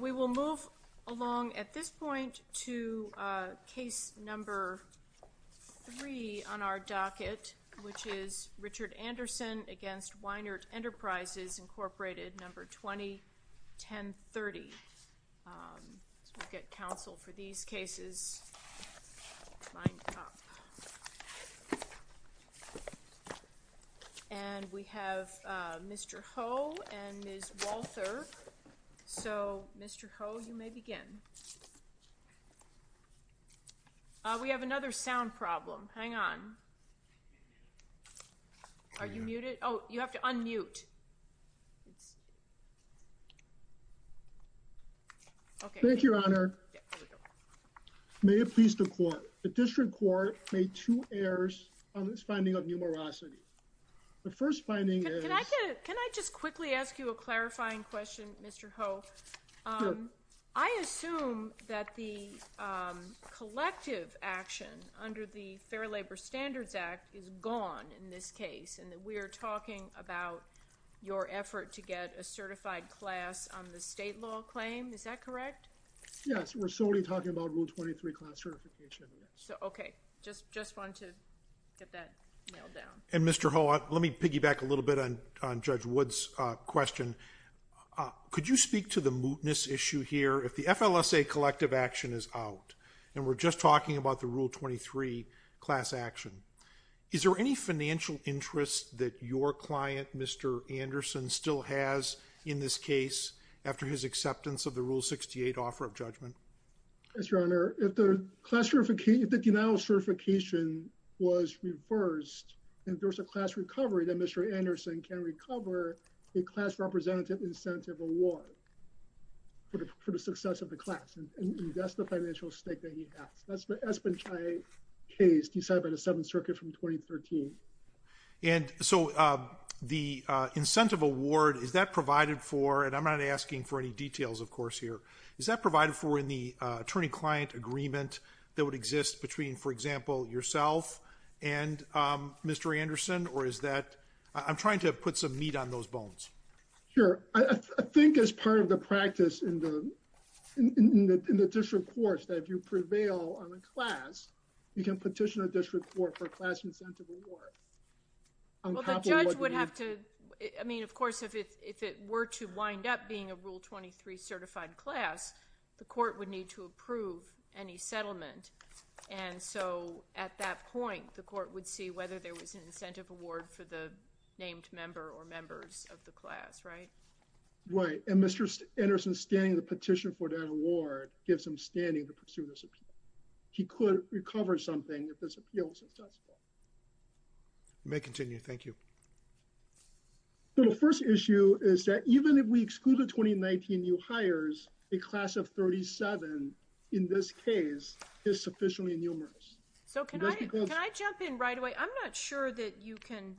We will move along at this point to case number 3 on our docket, which is Richard Anderson v. Weinert Enterprises, Inc., 20-1030. We'll get counsel for these cases lined up. And we have Mr. Ho and Ms. Walter. So, Mr. Ho, you may begin. We have another sound problem. Hang on. Are you muted? Oh, you have to unmute. Thank you, Your Honor. May it please the Court. The District Court made two errors on this finding of numerosity. The first finding is... Can I just quickly ask you a clarifying question, Mr. Ho? Sure. I assume that the collective action under the Fair Labor Standards Act is gone in this case, and that we are talking about your effort to get a certified class on the state law claim. Is that correct? Yes. We're solely talking about Rule 23 class certification. Okay. Just wanted to get that nailed down. And, Mr. Ho, let me piggyback a little bit on Judge Wood's question. Could you speak to the mootness issue here? If the FLSA collective action is out, and we're just talking about the Rule 23 class action, is there any financial interest that your client, Mr. Anderson, still has in this case, after his acceptance of the Rule 68 offer of judgment? Yes, Your Honor. If the denial of certification was reversed, and there was a class recovery, then Mr. Anderson can recover a class representative incentive award for the success of the class. And that's the financial stake that he has. That's been my case decided by the Seventh Circuit from 2013. And so the incentive award, is that provided for, and I'm not asking for any details, of course, here, is that provided for in the attorney-client agreement that would exist between, for example, yourself and Mr. Anderson? Or is that, I'm trying to put some meat on those bones. Sure. I think as part of the practice in the district courts, that if you prevail on a class, you can petition a district court for a class incentive award. Well, the judge would have to, I mean, of course, if it were to wind up being a Rule 23 certified class, the court would need to approve any settlement. And so at that point, the court would see whether there was an incentive award for the named member or members of the class, right? Right. And Mr. Anderson standing the petition for that award gives him standing to pursue this appeal. He could recover something if this appeal was successful. You may continue. Thank you. So the first issue is that even if we exclude the 2019 new hires, a class of 37 in this case is sufficiently numerous. So can I jump in right away? I'm not sure that you can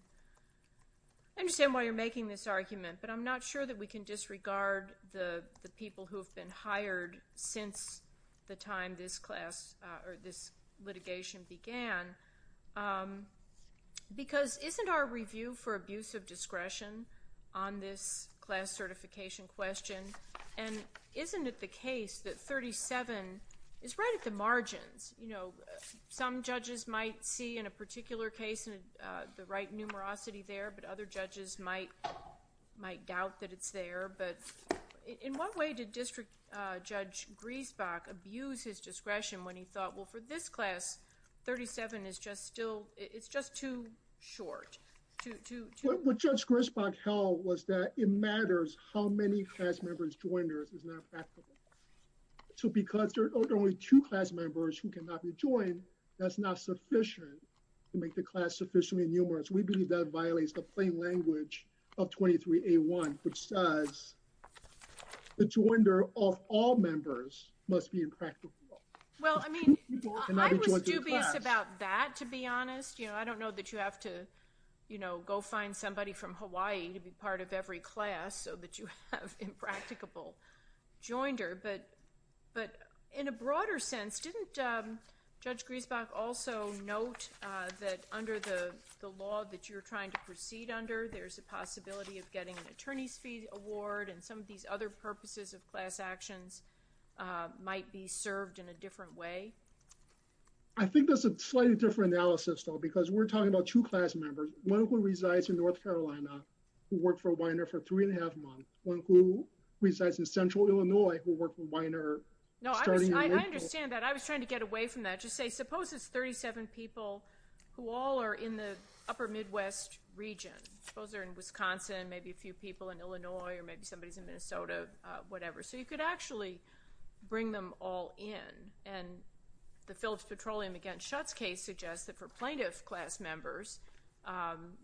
understand why you're making this argument, but I'm not sure that we can disregard the people who have been hired since the time this class or this litigation began. Because isn't our review for abuse of discretion on this class certification question, and isn't it the case that 37 is right at the margins? You know, some judges might see in a particular case the right numerosity there, but other judges might doubt that it's there. But in what way did District Judge Griesbach abuse his discretion when he thought, well, for this class, 37 is just still, it's just too short? What Judge Griesbach held was that it matters how many class members joined or is not practical. So because there are only two class members who cannot be joined, that's not sufficient to make the class sufficiently numerous. We believe that violates the plain language of 23A1, which says the joinder of all members must be impractical. Well, I mean, I was dubious about that, to be honest. You know, I don't know that you have to, you know, go find somebody from Hawaii to be part of every class so that you have impracticable joinder. But in a broader sense, didn't Judge Griesbach also note that under the law that you're trying to proceed under, there's a possibility of getting an attorney's fee award and some of these other purposes of class actions might be served in a different way? I think that's a slightly different analysis, though, because we're talking about two class members, one who resides in North Carolina who worked for Weiner for three and a half months, one who resides in central Illinois who worked for Weiner. No, I understand that. I was trying to get away from that. Just say, suppose it's 37 people who all are in the upper Midwest region. Suppose they're in Wisconsin, maybe a few people in Illinois, or maybe somebody's in Minnesota, whatever. So you could actually bring them all in. And the Phillips Petroleum against Schutz case suggests that for plaintiff class members,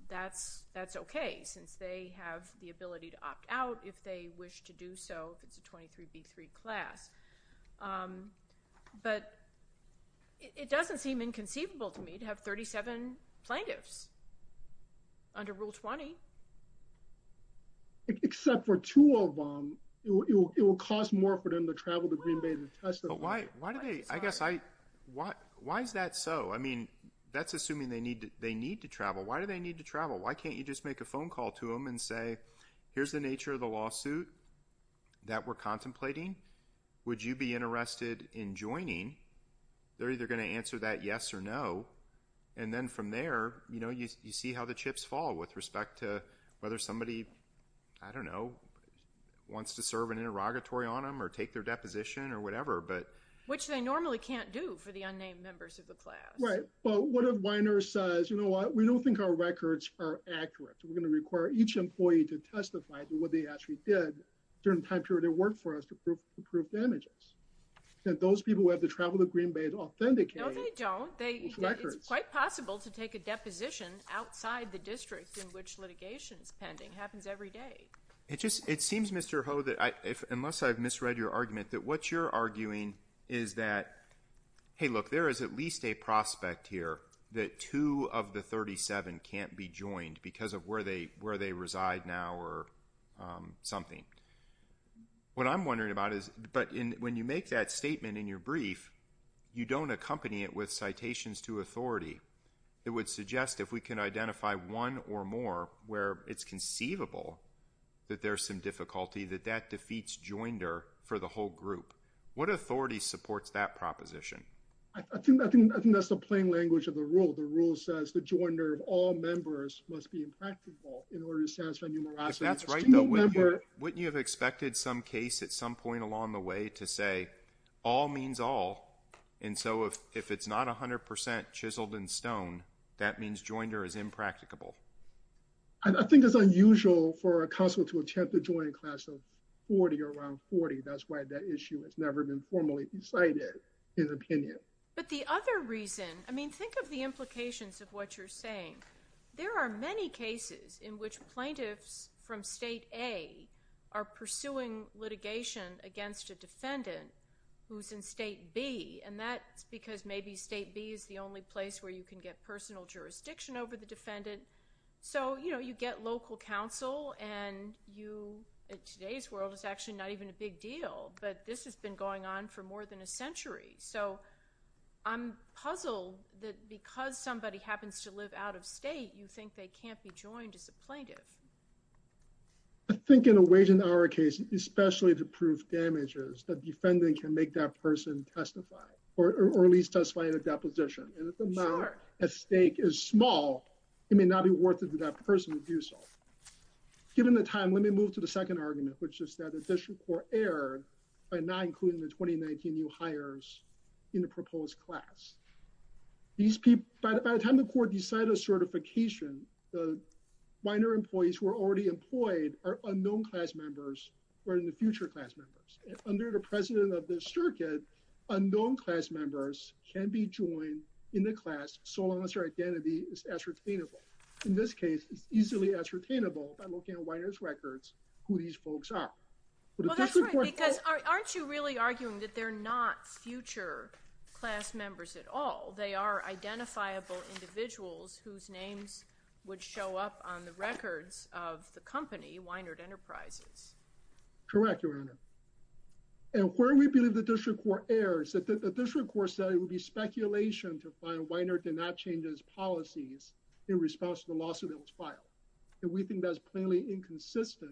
that's okay since they have the ability to opt out if they wish to do so if it's a 23B3 class. But it doesn't seem inconceivable to me to have 37 plaintiffs under Rule 20. Except for two of them, it will cost more for them to travel to Green Bay to testify. Why is that so? I mean, that's assuming they need to travel. Why do they need to travel? Why can't you just make a phone call to them and say, here's the nature of the lawsuit that we're contemplating. Would you be interested in joining? They're either going to answer that yes or no. And then from there, you see how the chips fall with respect to whether somebody, I don't know, wants to serve an interrogatory on them or take their deposition or whatever. Which they normally can't do for the unnamed members of the class. Right. Well, what if my nurse says, you know what, we don't think our records are accurate. We're going to require each employee to testify to what they actually did during the time period they worked for us to prove damages. And those people who have to travel to Green Bay to authenticate those records. No, they don't. It's quite possible to take a deposition outside the district in which litigation is pending. It happens every day. It seems, Mr. Ho, unless I've misread your argument, that what you're arguing is that, hey, look, there is at least a prospect here that two of the 37 can't be joined because of where they reside now or something. What I'm wondering about is, but when you make that statement in your brief, you don't accompany it with citations to authority. It would suggest if we can identify one or more where it's conceivable that there's some difficulty, that that defeats joinder for the whole group. What authority supports that proposition? I think that's the plain language of the rule. The rule says the joinder of all members must be impractical in order to satisfy numerosity. That's right. Wouldn't you have expected some case at some point along the way to say all means all? And so if it's not 100 percent chiseled in stone, that means joinder is impracticable. I think it's unusual for a council to attempt to join a class of 40 or around 40. That's why that issue has never been formally decided in opinion. But the other reason, I mean, think of the implications of what you're saying. There are many cases in which plaintiffs from State A are pursuing litigation against a defendant who's in State B. And that's because maybe State B is the only place where you can get personal jurisdiction over the defendant. So, you know, you get local council and you, in today's world, it's actually not even a big deal. But this has been going on for more than a century. So I'm puzzled that because somebody happens to live out of state, you think they can't be joined as a plaintiff. I think in a way, in our case, especially to prove damages, the defendant can make that person testify or at least testify in a deposition. And if the amount at stake is small, it may not be worth it for that person to do so. Given the time, let me move to the second argument, which is that the district court erred by not including the 2019 new hires in the proposed class. By the time the court decided on certification, the minor employees who are already employed are unknown class members or in the future class members. Under the president of this circuit, unknown class members can be joined in the class so long as their identity is ascertainable. In this case, it's easily ascertainable by looking at Weiner's records who these folks are. Well, that's right, because aren't you really arguing that they're not future class members at all? They are identifiable individuals whose names would show up on the records of the company, Weiner Enterprises. Correct, Your Honor. And where we believe the district court erred is that the district court said it would be speculation to find Weiner did not change his policies in response to the lawsuit that was filed. And we think that's plainly inconsistent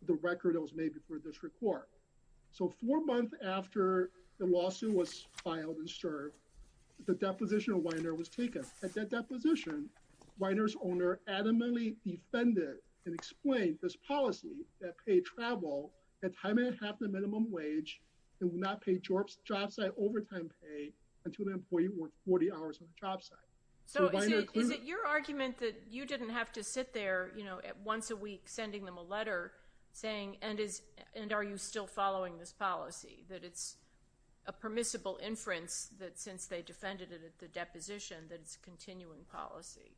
with the record that was made before the district court. So four months after the lawsuit was filed and served, the deposition of Weiner was taken. At that deposition, Weiner's owner adamantly defended and explained this policy that paid travel at time and half the minimum wage and would not pay job site overtime pay until the employee worked 40 hours on the job site. So is it your argument that you didn't have to sit there once a week sending them a letter saying, and are you still following this policy, that it's a permissible inference that since they defended it at the deposition, that it's continuing policy?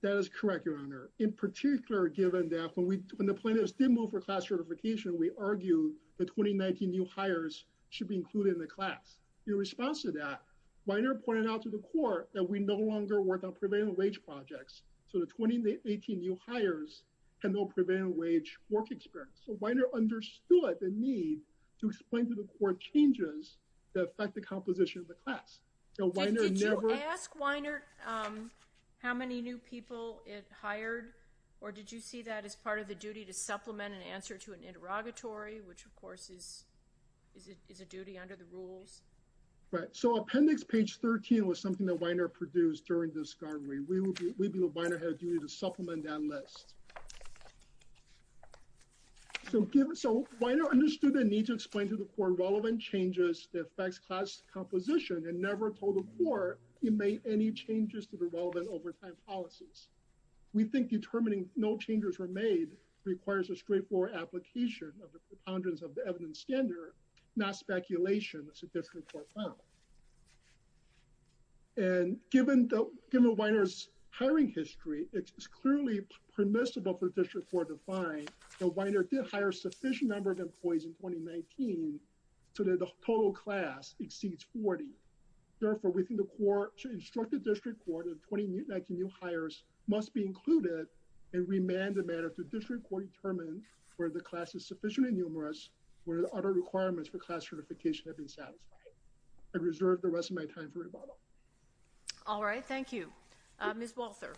That is correct, Your Honor. In particular, given that when the plaintiffs did move for class certification, we argued the 2019 new hires should be included in the class. In response to that, Weiner pointed out to the court that we no longer work on prevailing wage projects. So the 2018 new hires had no prevailing wage work experience. So Weiner understood the need to explain to the court changes that affect the composition of the class. Did you ask Weiner how many new people it hired? Or did you see that as part of the duty to supplement an answer to an interrogatory, which of course is a duty under the rules? Right. So Appendix Page 13 was something that Weiner produced during this hearing. We believe Weiner had a duty to supplement that list. So Weiner understood the need to explain to the court relevant changes that affects class composition and never told the court it made any changes to the relevant overtime policies. We think determining no changes were made requires a straightforward application of the preponderance of the evidence standard, not speculation that's a district court found. And given Weiner's hiring history, it's clearly permissible for the district court to find that Weiner did hire a sufficient number of employees in 2019 so that the total class exceeds 40. Therefore, we think the court should instruct the district court that the 2019 new hires must be included and remand the matter to the district court to determine whether the class is sufficiently numerous, whether the other requirements for class certification have been satisfied. I reserve the rest of my time for rebuttal. All right, thank you. Ms. Walther.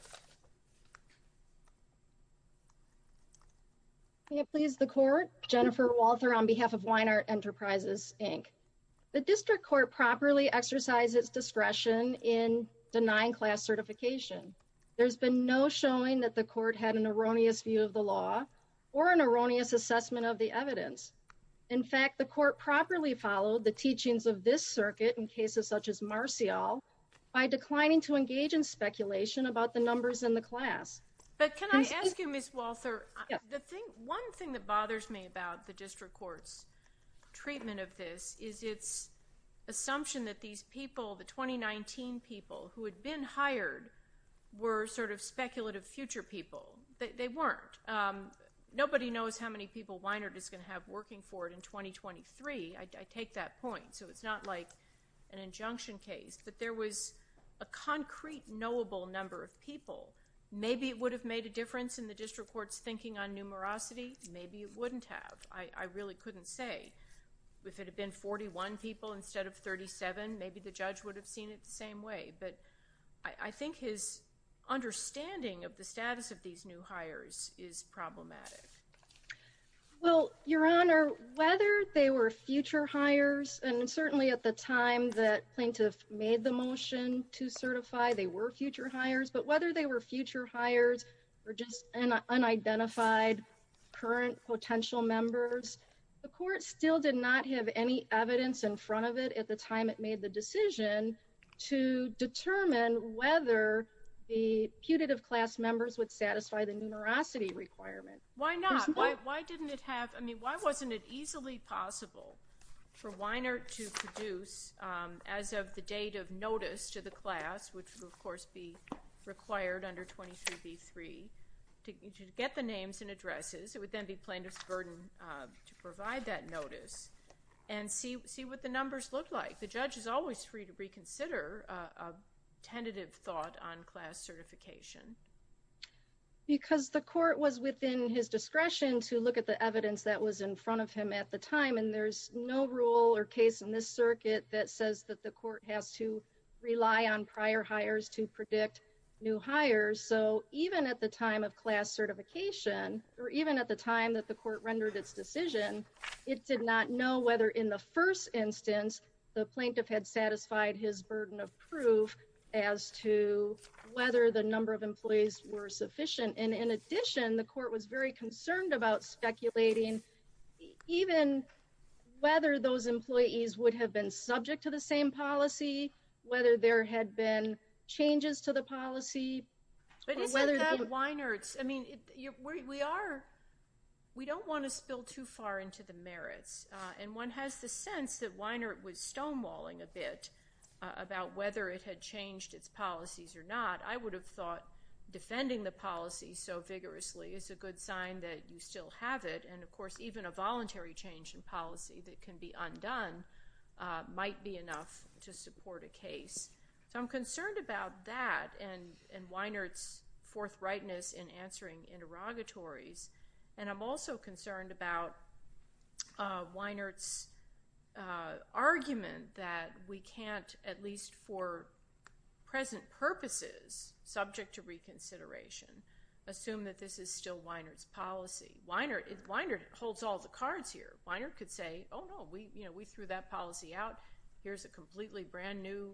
May it please the court, Jennifer Walther on behalf of Weiner Enterprises, Inc. The district court properly exercised its discretion in denying class certification. There's been no showing that the court had an erroneous view of the law or an erroneous assessment of the evidence. In fact, the court properly followed the teachings of this circuit in cases such as Marcial by declining to engage in speculation about the numbers in the class. But can I ask you, Ms. Walther, the thing, one thing that bothers me about the district court's treatment of this is its assumption that these people, the 2019 people who had been hired were sort of speculative future people. They weren't. Nobody knows how many people Weiner is going to have working for it in 2023. I take that point. So it's not like an injunction case. But there was a concrete knowable number of people. Maybe it would have made a difference in the district court's thinking on numerosity. Maybe it wouldn't have. I really couldn't say. If it had been 41 people instead of 37, maybe the judge would have seen it the same way. But I think his understanding of the status of these new hires is problematic. Well, Your Honor, whether they were future hires and certainly at the time that plaintiff made the motion to certify they were future hires, but whether they were future hires or just an unidentified current potential members, the court still did not have any evidence in front of it. At the time it made the decision to determine whether the putative class members would satisfy the numerosity requirement. Why not? Why didn't it have? I mean, why wasn't it easily possible for Weiner to produce as of the date of notice to the class, which would, of course, be required under 23B3 to get the names and addresses? It would then be plaintiff's burden to provide that notice and see what the numbers look like. The judge is always free to reconsider a tentative thought on class certification. Because the court was within his discretion to look at the evidence that was in front of him at the time, and there's no rule or case in this circuit that says that the court has to rely on prior hires to predict new hires. So even at the time of class certification, or even at the time that the court rendered its decision, it did not know whether in the first instance the plaintiff had satisfied his burden of proof as to whether the number of employees were sufficient. And in addition, the court was very concerned about speculating even whether those employees would have been subject to the same policy, whether there had been changes to the policy. But isn't that Weiner's? I mean, we don't want to spill too far into the merits. And one has the sense that Weiner was stonewalling a bit about whether it had changed its policies or not. I would have thought defending the policy so vigorously is a good sign that you still have it. And of course, even a voluntary change in policy that can be undone might be enough to support a case. So I'm concerned about that and Weiner's forthrightness in answering interrogatories. And I'm also concerned about Weiner's argument that we can't, at least for present purposes, subject to reconsideration, assume that this is still Weiner's policy. Weiner holds all the cards here. Weiner could say, oh, no, we threw that policy out. Here's a completely brand-new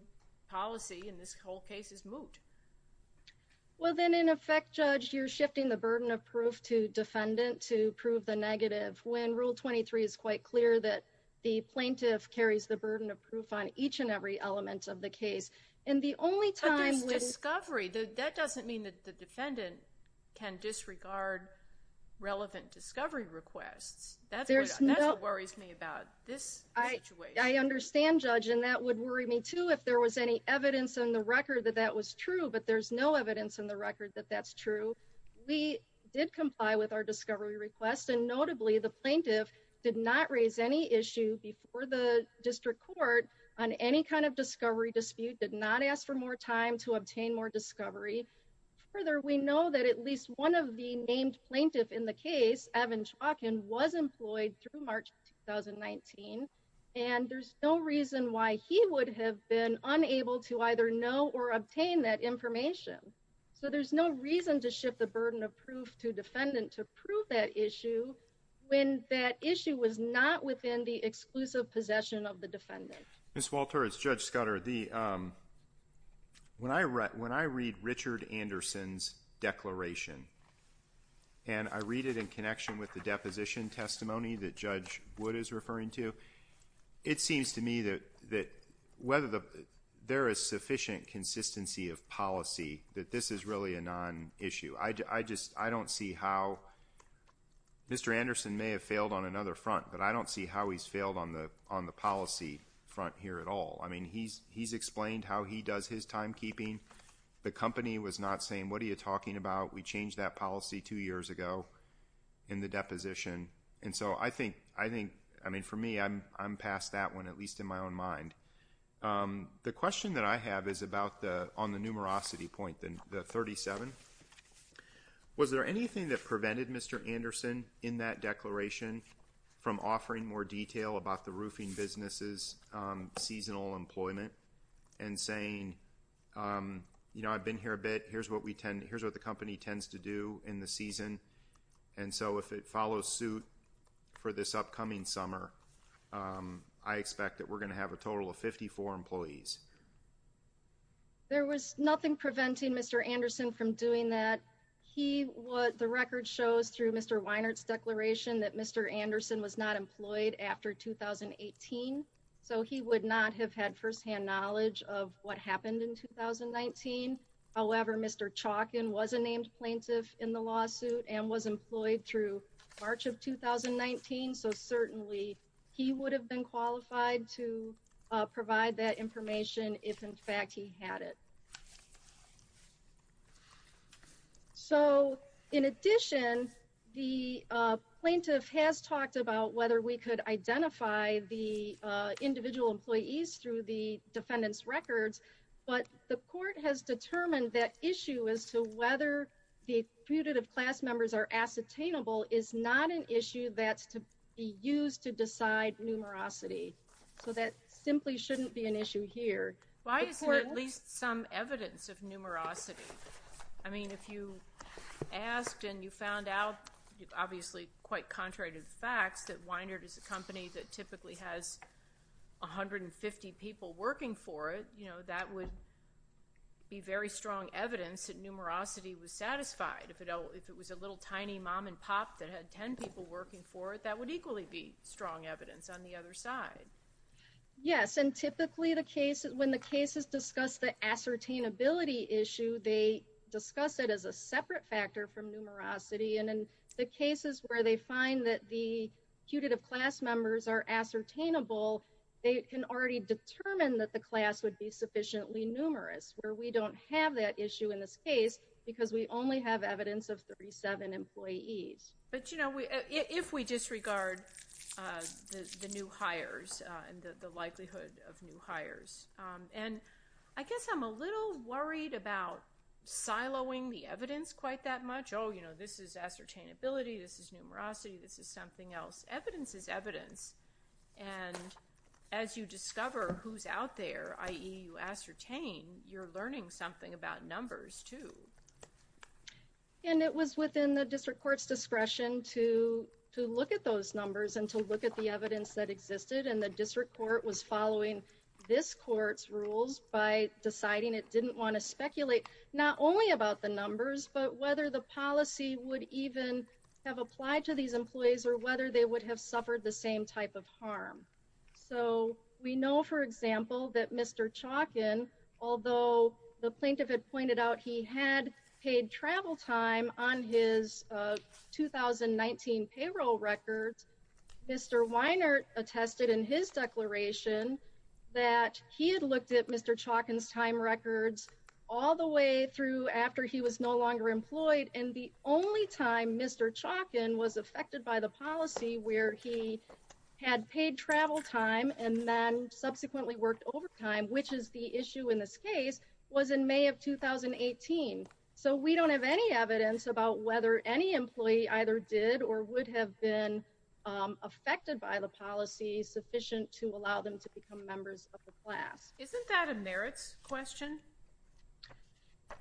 policy, and this whole case is moot. Well, then, in effect, Judge, you're shifting the burden of proof to defendant to prove the negative when Rule 23 is quite clear that the plaintiff carries the burden of proof on each and every element of the case. And the only time when… But there's discovery. That doesn't mean that the defendant can disregard relevant discovery requests. That's what worries me about this situation. I understand, Judge, and that would worry me, too, if there was any evidence on the record that that was true. But there's no evidence on the record that that's true. We did comply with our discovery request. And notably, the plaintiff did not raise any issue before the district court on any kind of discovery dispute, did not ask for more time to obtain more discovery. Further, we know that at least one of the named plaintiff in the case, Evan Chalkin, was employed through March 2019, and there's no reason why he would have been unable to either know or obtain that information. So there's no reason to shift the burden of proof to defendant to prove that issue when that issue was not within the exclusive possession of the defendant. Ms. Walter, it's Judge Scudder. When I read Richard Anderson's declaration, and I read it in connection with the deposition testimony that Judge Wood is referring to, it seems to me that whether there is sufficient consistency of policy that this is really a non-issue. I don't see how Mr. Anderson may have failed on another front, but I don't see how he's failed on the policy front here at all. I mean, he's explained how he does his timekeeping. The company was not saying, what are you talking about? We changed that policy two years ago in the deposition. And so I think, I mean, for me, I'm past that one, at least in my own mind. The question that I have is about the, on the numerosity point, the 37. Was there anything that prevented Mr. Anderson in that declaration from offering more detail about the roofing business's seasonal employment? And saying, you know, I've been here a bit. Here's what we tend, here's what the company tends to do in the season. And so if it follows suit for this upcoming summer, I expect that we're going to have a total of 54 employees. There was nothing preventing Mr. Anderson from doing that. He, what the record shows through Mr. Weinert's declaration, that Mr. Anderson was not employed after 2018. So he would not have had firsthand knowledge of what happened in 2019. However, Mr. Chalkin was a named plaintiff in the lawsuit and was employed through March of 2019. So certainly he would have been qualified to provide that information if in fact he had it. So in addition, the plaintiff has talked about whether we could identify the individual employees through the defendant's records. But the court has determined that issue as to whether the deputative class members are ascertainable is not an issue that's to be used to decide numerosity. So that simply shouldn't be an issue here. Why isn't there at least some evidence of numerosity? I mean, if you asked and you found out, obviously quite contrary to the facts, that Weinert is a company that typically has 150 people working for it, you know, that would be very strong evidence that numerosity was satisfied. If it was a little tiny mom and pop that had 10 people working for it, that would equally be strong evidence on the other side. Yes, and typically when the cases discuss the ascertainability issue, they discuss it as a separate factor from numerosity. And in the cases where they find that the deputative class members are ascertainable, they can already determine that the class would be sufficiently numerous, where we don't have that issue in this case because we only have evidence of 37 employees. But, you know, if we disregard the new hires and the likelihood of new hires, and I guess I'm a little worried about siloing the evidence quite that much. Oh, you know, this is ascertainability, this is numerosity, this is something else. Evidence is evidence. And as you discover who's out there, i.e., you ascertain, you're learning something about numbers, too. And it was within the district court's discretion to look at those numbers and to look at the evidence that existed, and the district court was following this court's rules by deciding it didn't want to speculate, not only about the numbers, but whether the policy would even have applied to these employees or whether they would have suffered the same type of harm. So we know, for example, that Mr. Chalkin, although the plaintiff had pointed out he had paid travel time on his 2019 payroll records, Mr. Weinert attested in his declaration that he had looked at Mr. Chalkin's time records all the way through after he was no longer employed, and the only time Mr. Chalkin was affected by the policy where he had paid travel time and then subsequently worked overtime, which is the issue in this case, was in May of 2018. So we don't have any evidence about whether any employee either did or would have been affected by the policy sufficient to allow them to become members of the class. Isn't that a merits question?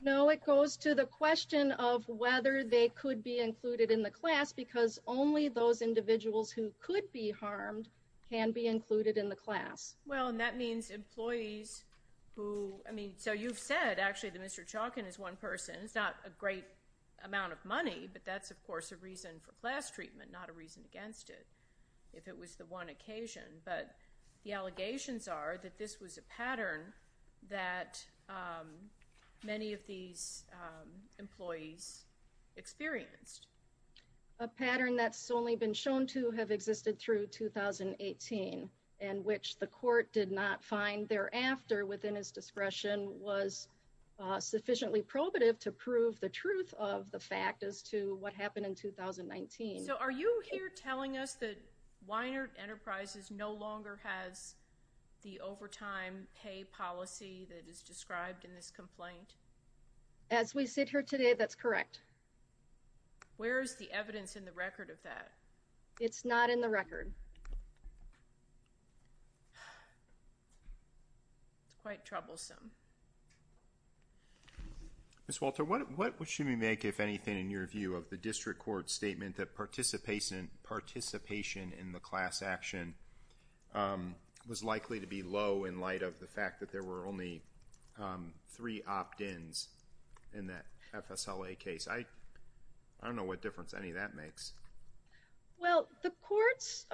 No, it goes to the question of whether they could be included in the class because only those individuals who could be harmed can be included in the class. Well, and that means employees who, I mean, so you've said actually that Mr. Chalkin is one person. It's not a great amount of money, but that's, of course, a reason for class treatment, not a reason against it, if it was the one occasion. But the allegations are that this was a pattern that many of these employees experienced. A pattern that's only been shown to have existed through 2018 and which the court did not find thereafter within its discretion was sufficiently probative to prove the truth of the fact as to what happened in 2019. So are you here telling us that Weiner Enterprises no longer has the overtime pay policy that is described in this complaint? As we sit here today, that's correct. Where is the evidence in the record of that? It's not in the record. It's quite troublesome. Ms. Walter, what should we make, if anything, in your view of the district court's statement that participation in the class action was likely to be low in light of the fact that there were only three opt-ins in that FSLA case? I don't know what difference any of that makes. Well, the courts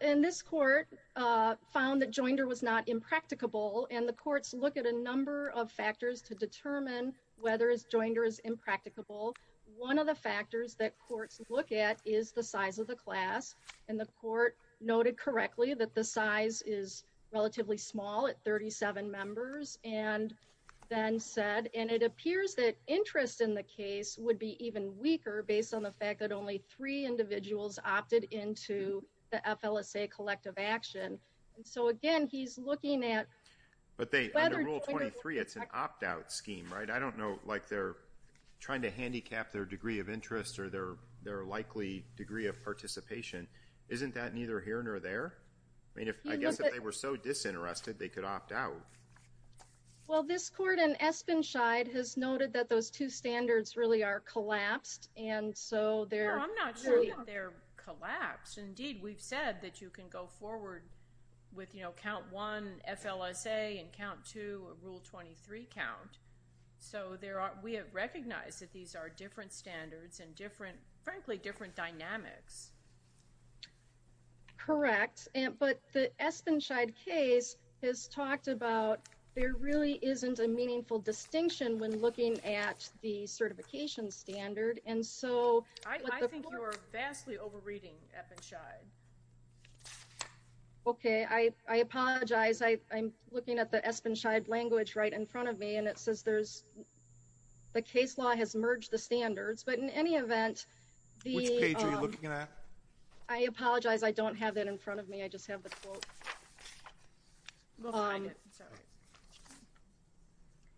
in this court found that Joinder was not impracticable and the courts look at a number of factors to determine whether Joinder is impracticable. One of the factors that courts look at is the size of the class. And the court noted correctly that the size is relatively small at 37 members and then said, and it appears that interest in the case would be even weaker based on the fact that only three individuals opted into the FLSA collective action. And so, again, he's looking at whether Joinder is impracticable. But they, under Rule 23, it's an opt-out scheme, right? I don't know, like they're trying to handicap their degree of interest or their likely degree of participation. Isn't that neither here nor there? I mean, I guess if they were so disinterested, they could opt out. Well, this court in Espenshide has noted that those two standards really are collapsed, and so they're No, I'm not sure that they're collapsed. Indeed, we've said that you can go forward with, you know, Count 1, FLSA, and Count 2, Rule 23 count. So we have recognized that these are different standards and, frankly, different dynamics. Correct. But the Espenshide case has talked about there really isn't a meaningful distinction when looking at the certification standard. I think you're vastly over-reading Espenshide. Okay. I apologize. I'm looking at the Espenshide language right in front of me, and it says there's the case law has merged the standards. But in any event, the Which page are you looking at? I apologize. I don't have that in front of me. I just have the quote.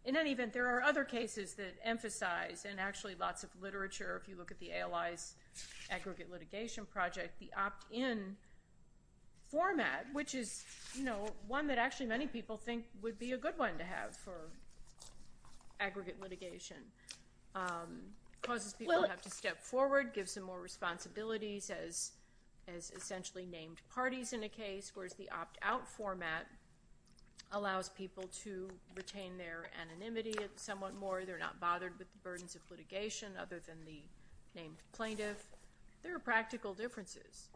In any event, there are other cases that emphasize, and actually lots of literature, if you look at the ALI's aggregate litigation project, the opt-in format, which is, you know, one that actually many people think would be a good one to have for aggregate litigation. It causes people to have to step forward, gives them more responsibilities as essentially named parties in a case, whereas the opt-out format allows people to retain their anonymity somewhat more. They're not bothered with the burdens of litigation other than the named plaintiff. There are practical differences.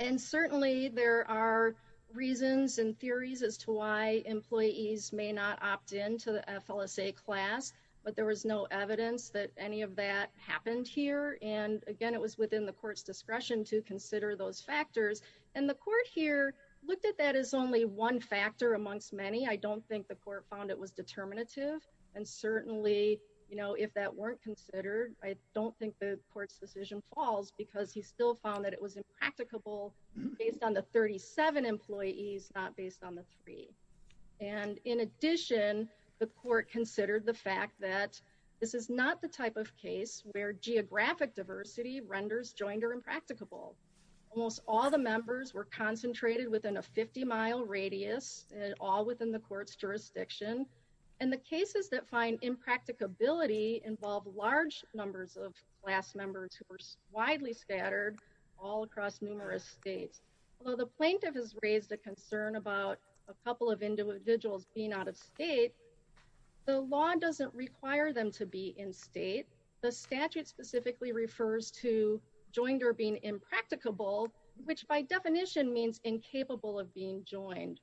And certainly there are reasons and theories as to why employees may not opt in to the FLSA class, but there was no evidence that any of that happened here. And again, it was within the court's discretion to consider those factors. And the court here looked at that as only one factor amongst many. I don't think the court found it was determinative. And certainly, you know, if that weren't considered, I don't think the court's decision falls because he still found that it was impracticable based on the 37 employees, not based on the three. And in addition, the court considered the fact that this is not the type of case where geographic diversity renders joinder impracticable. Almost all the members were concentrated within a 50-mile radius, all within the court's jurisdiction. And the cases that find impracticability involve large numbers of class members who were widely scattered all across numerous states. Although the plaintiff has raised a concern about a couple of individuals being out of state, the law doesn't require them to be in state. The statute specifically refers to joinder being impracticable, which by definition means incapable of being joined.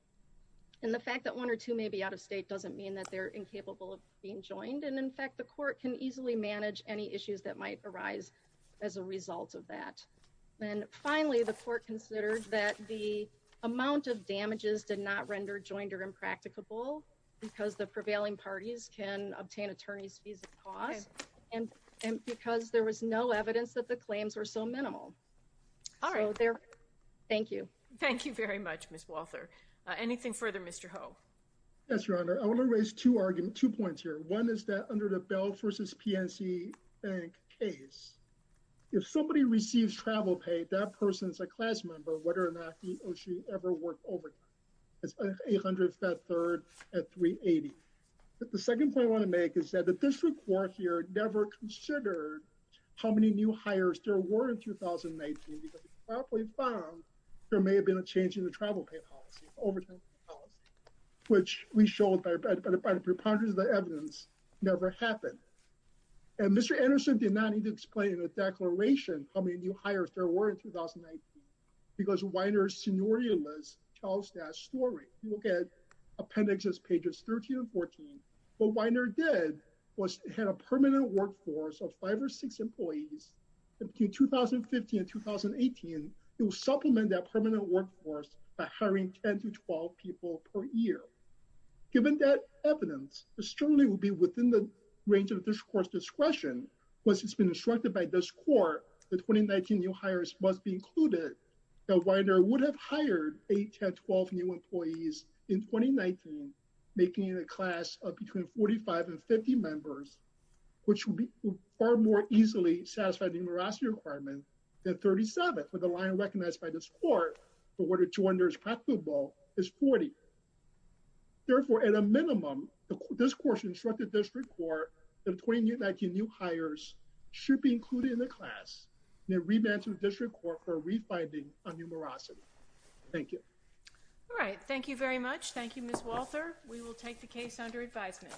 And the fact that one or two may be out of state doesn't mean that they're incapable of being joined. And in fact, the court can easily manage any issues that might arise as a result of that. And finally, the court considered that the amount of damages did not render joinder impracticable because the prevailing parties can obtain attorney's fees of cause, and because there was no evidence that the claims were so minimal. All right. Thank you. Thank you very much, Ms. Walther. Anything further, Mr. Ho? Yes, Your Honor. I want to raise two arguments, two points here. One is that under the Bell v. PNC bank case, if somebody receives travel pay, that person's a class member, whether or not he or she ever worked overtime. It's 800 Fed Third at 380. But the second point I want to make is that the district court here never considered how many new hires there were in 2019, because they probably found there may have been a change in the travel pay policy, overtime policy, which we showed by the preponderance of the evidence never happened. And Mr. Anderson did not need to explain in a declaration how many new hires there were in 2019, because Weiner's scenario list tells that story. Look at appendixes pages 13 and 14. What Weiner did was had a permanent workforce of five or six employees. Between 2015 and 2018, it will supplement that permanent workforce by hiring 10 to 12 people per year. Given that evidence, it certainly would be within the range of the district court's discretion. Once it's been instructed by this court that 2019 new hires must be included, that Weiner would have hired 8 to 12 new employees in 2019, making it a class of between 45 and 50 members, which would be far more easily satisfied the numerosity requirement than 37, with the line recognized by this court for where the two-under is preferable is 40. Therefore, at a minimum, this court should instruct the district court that 2019 new hires should be included in the class, and a remand to the district court for refinding on numerosity. Thank you. All right. Thank you very much. Thank you, Ms. Walther. We will take the case under advisement.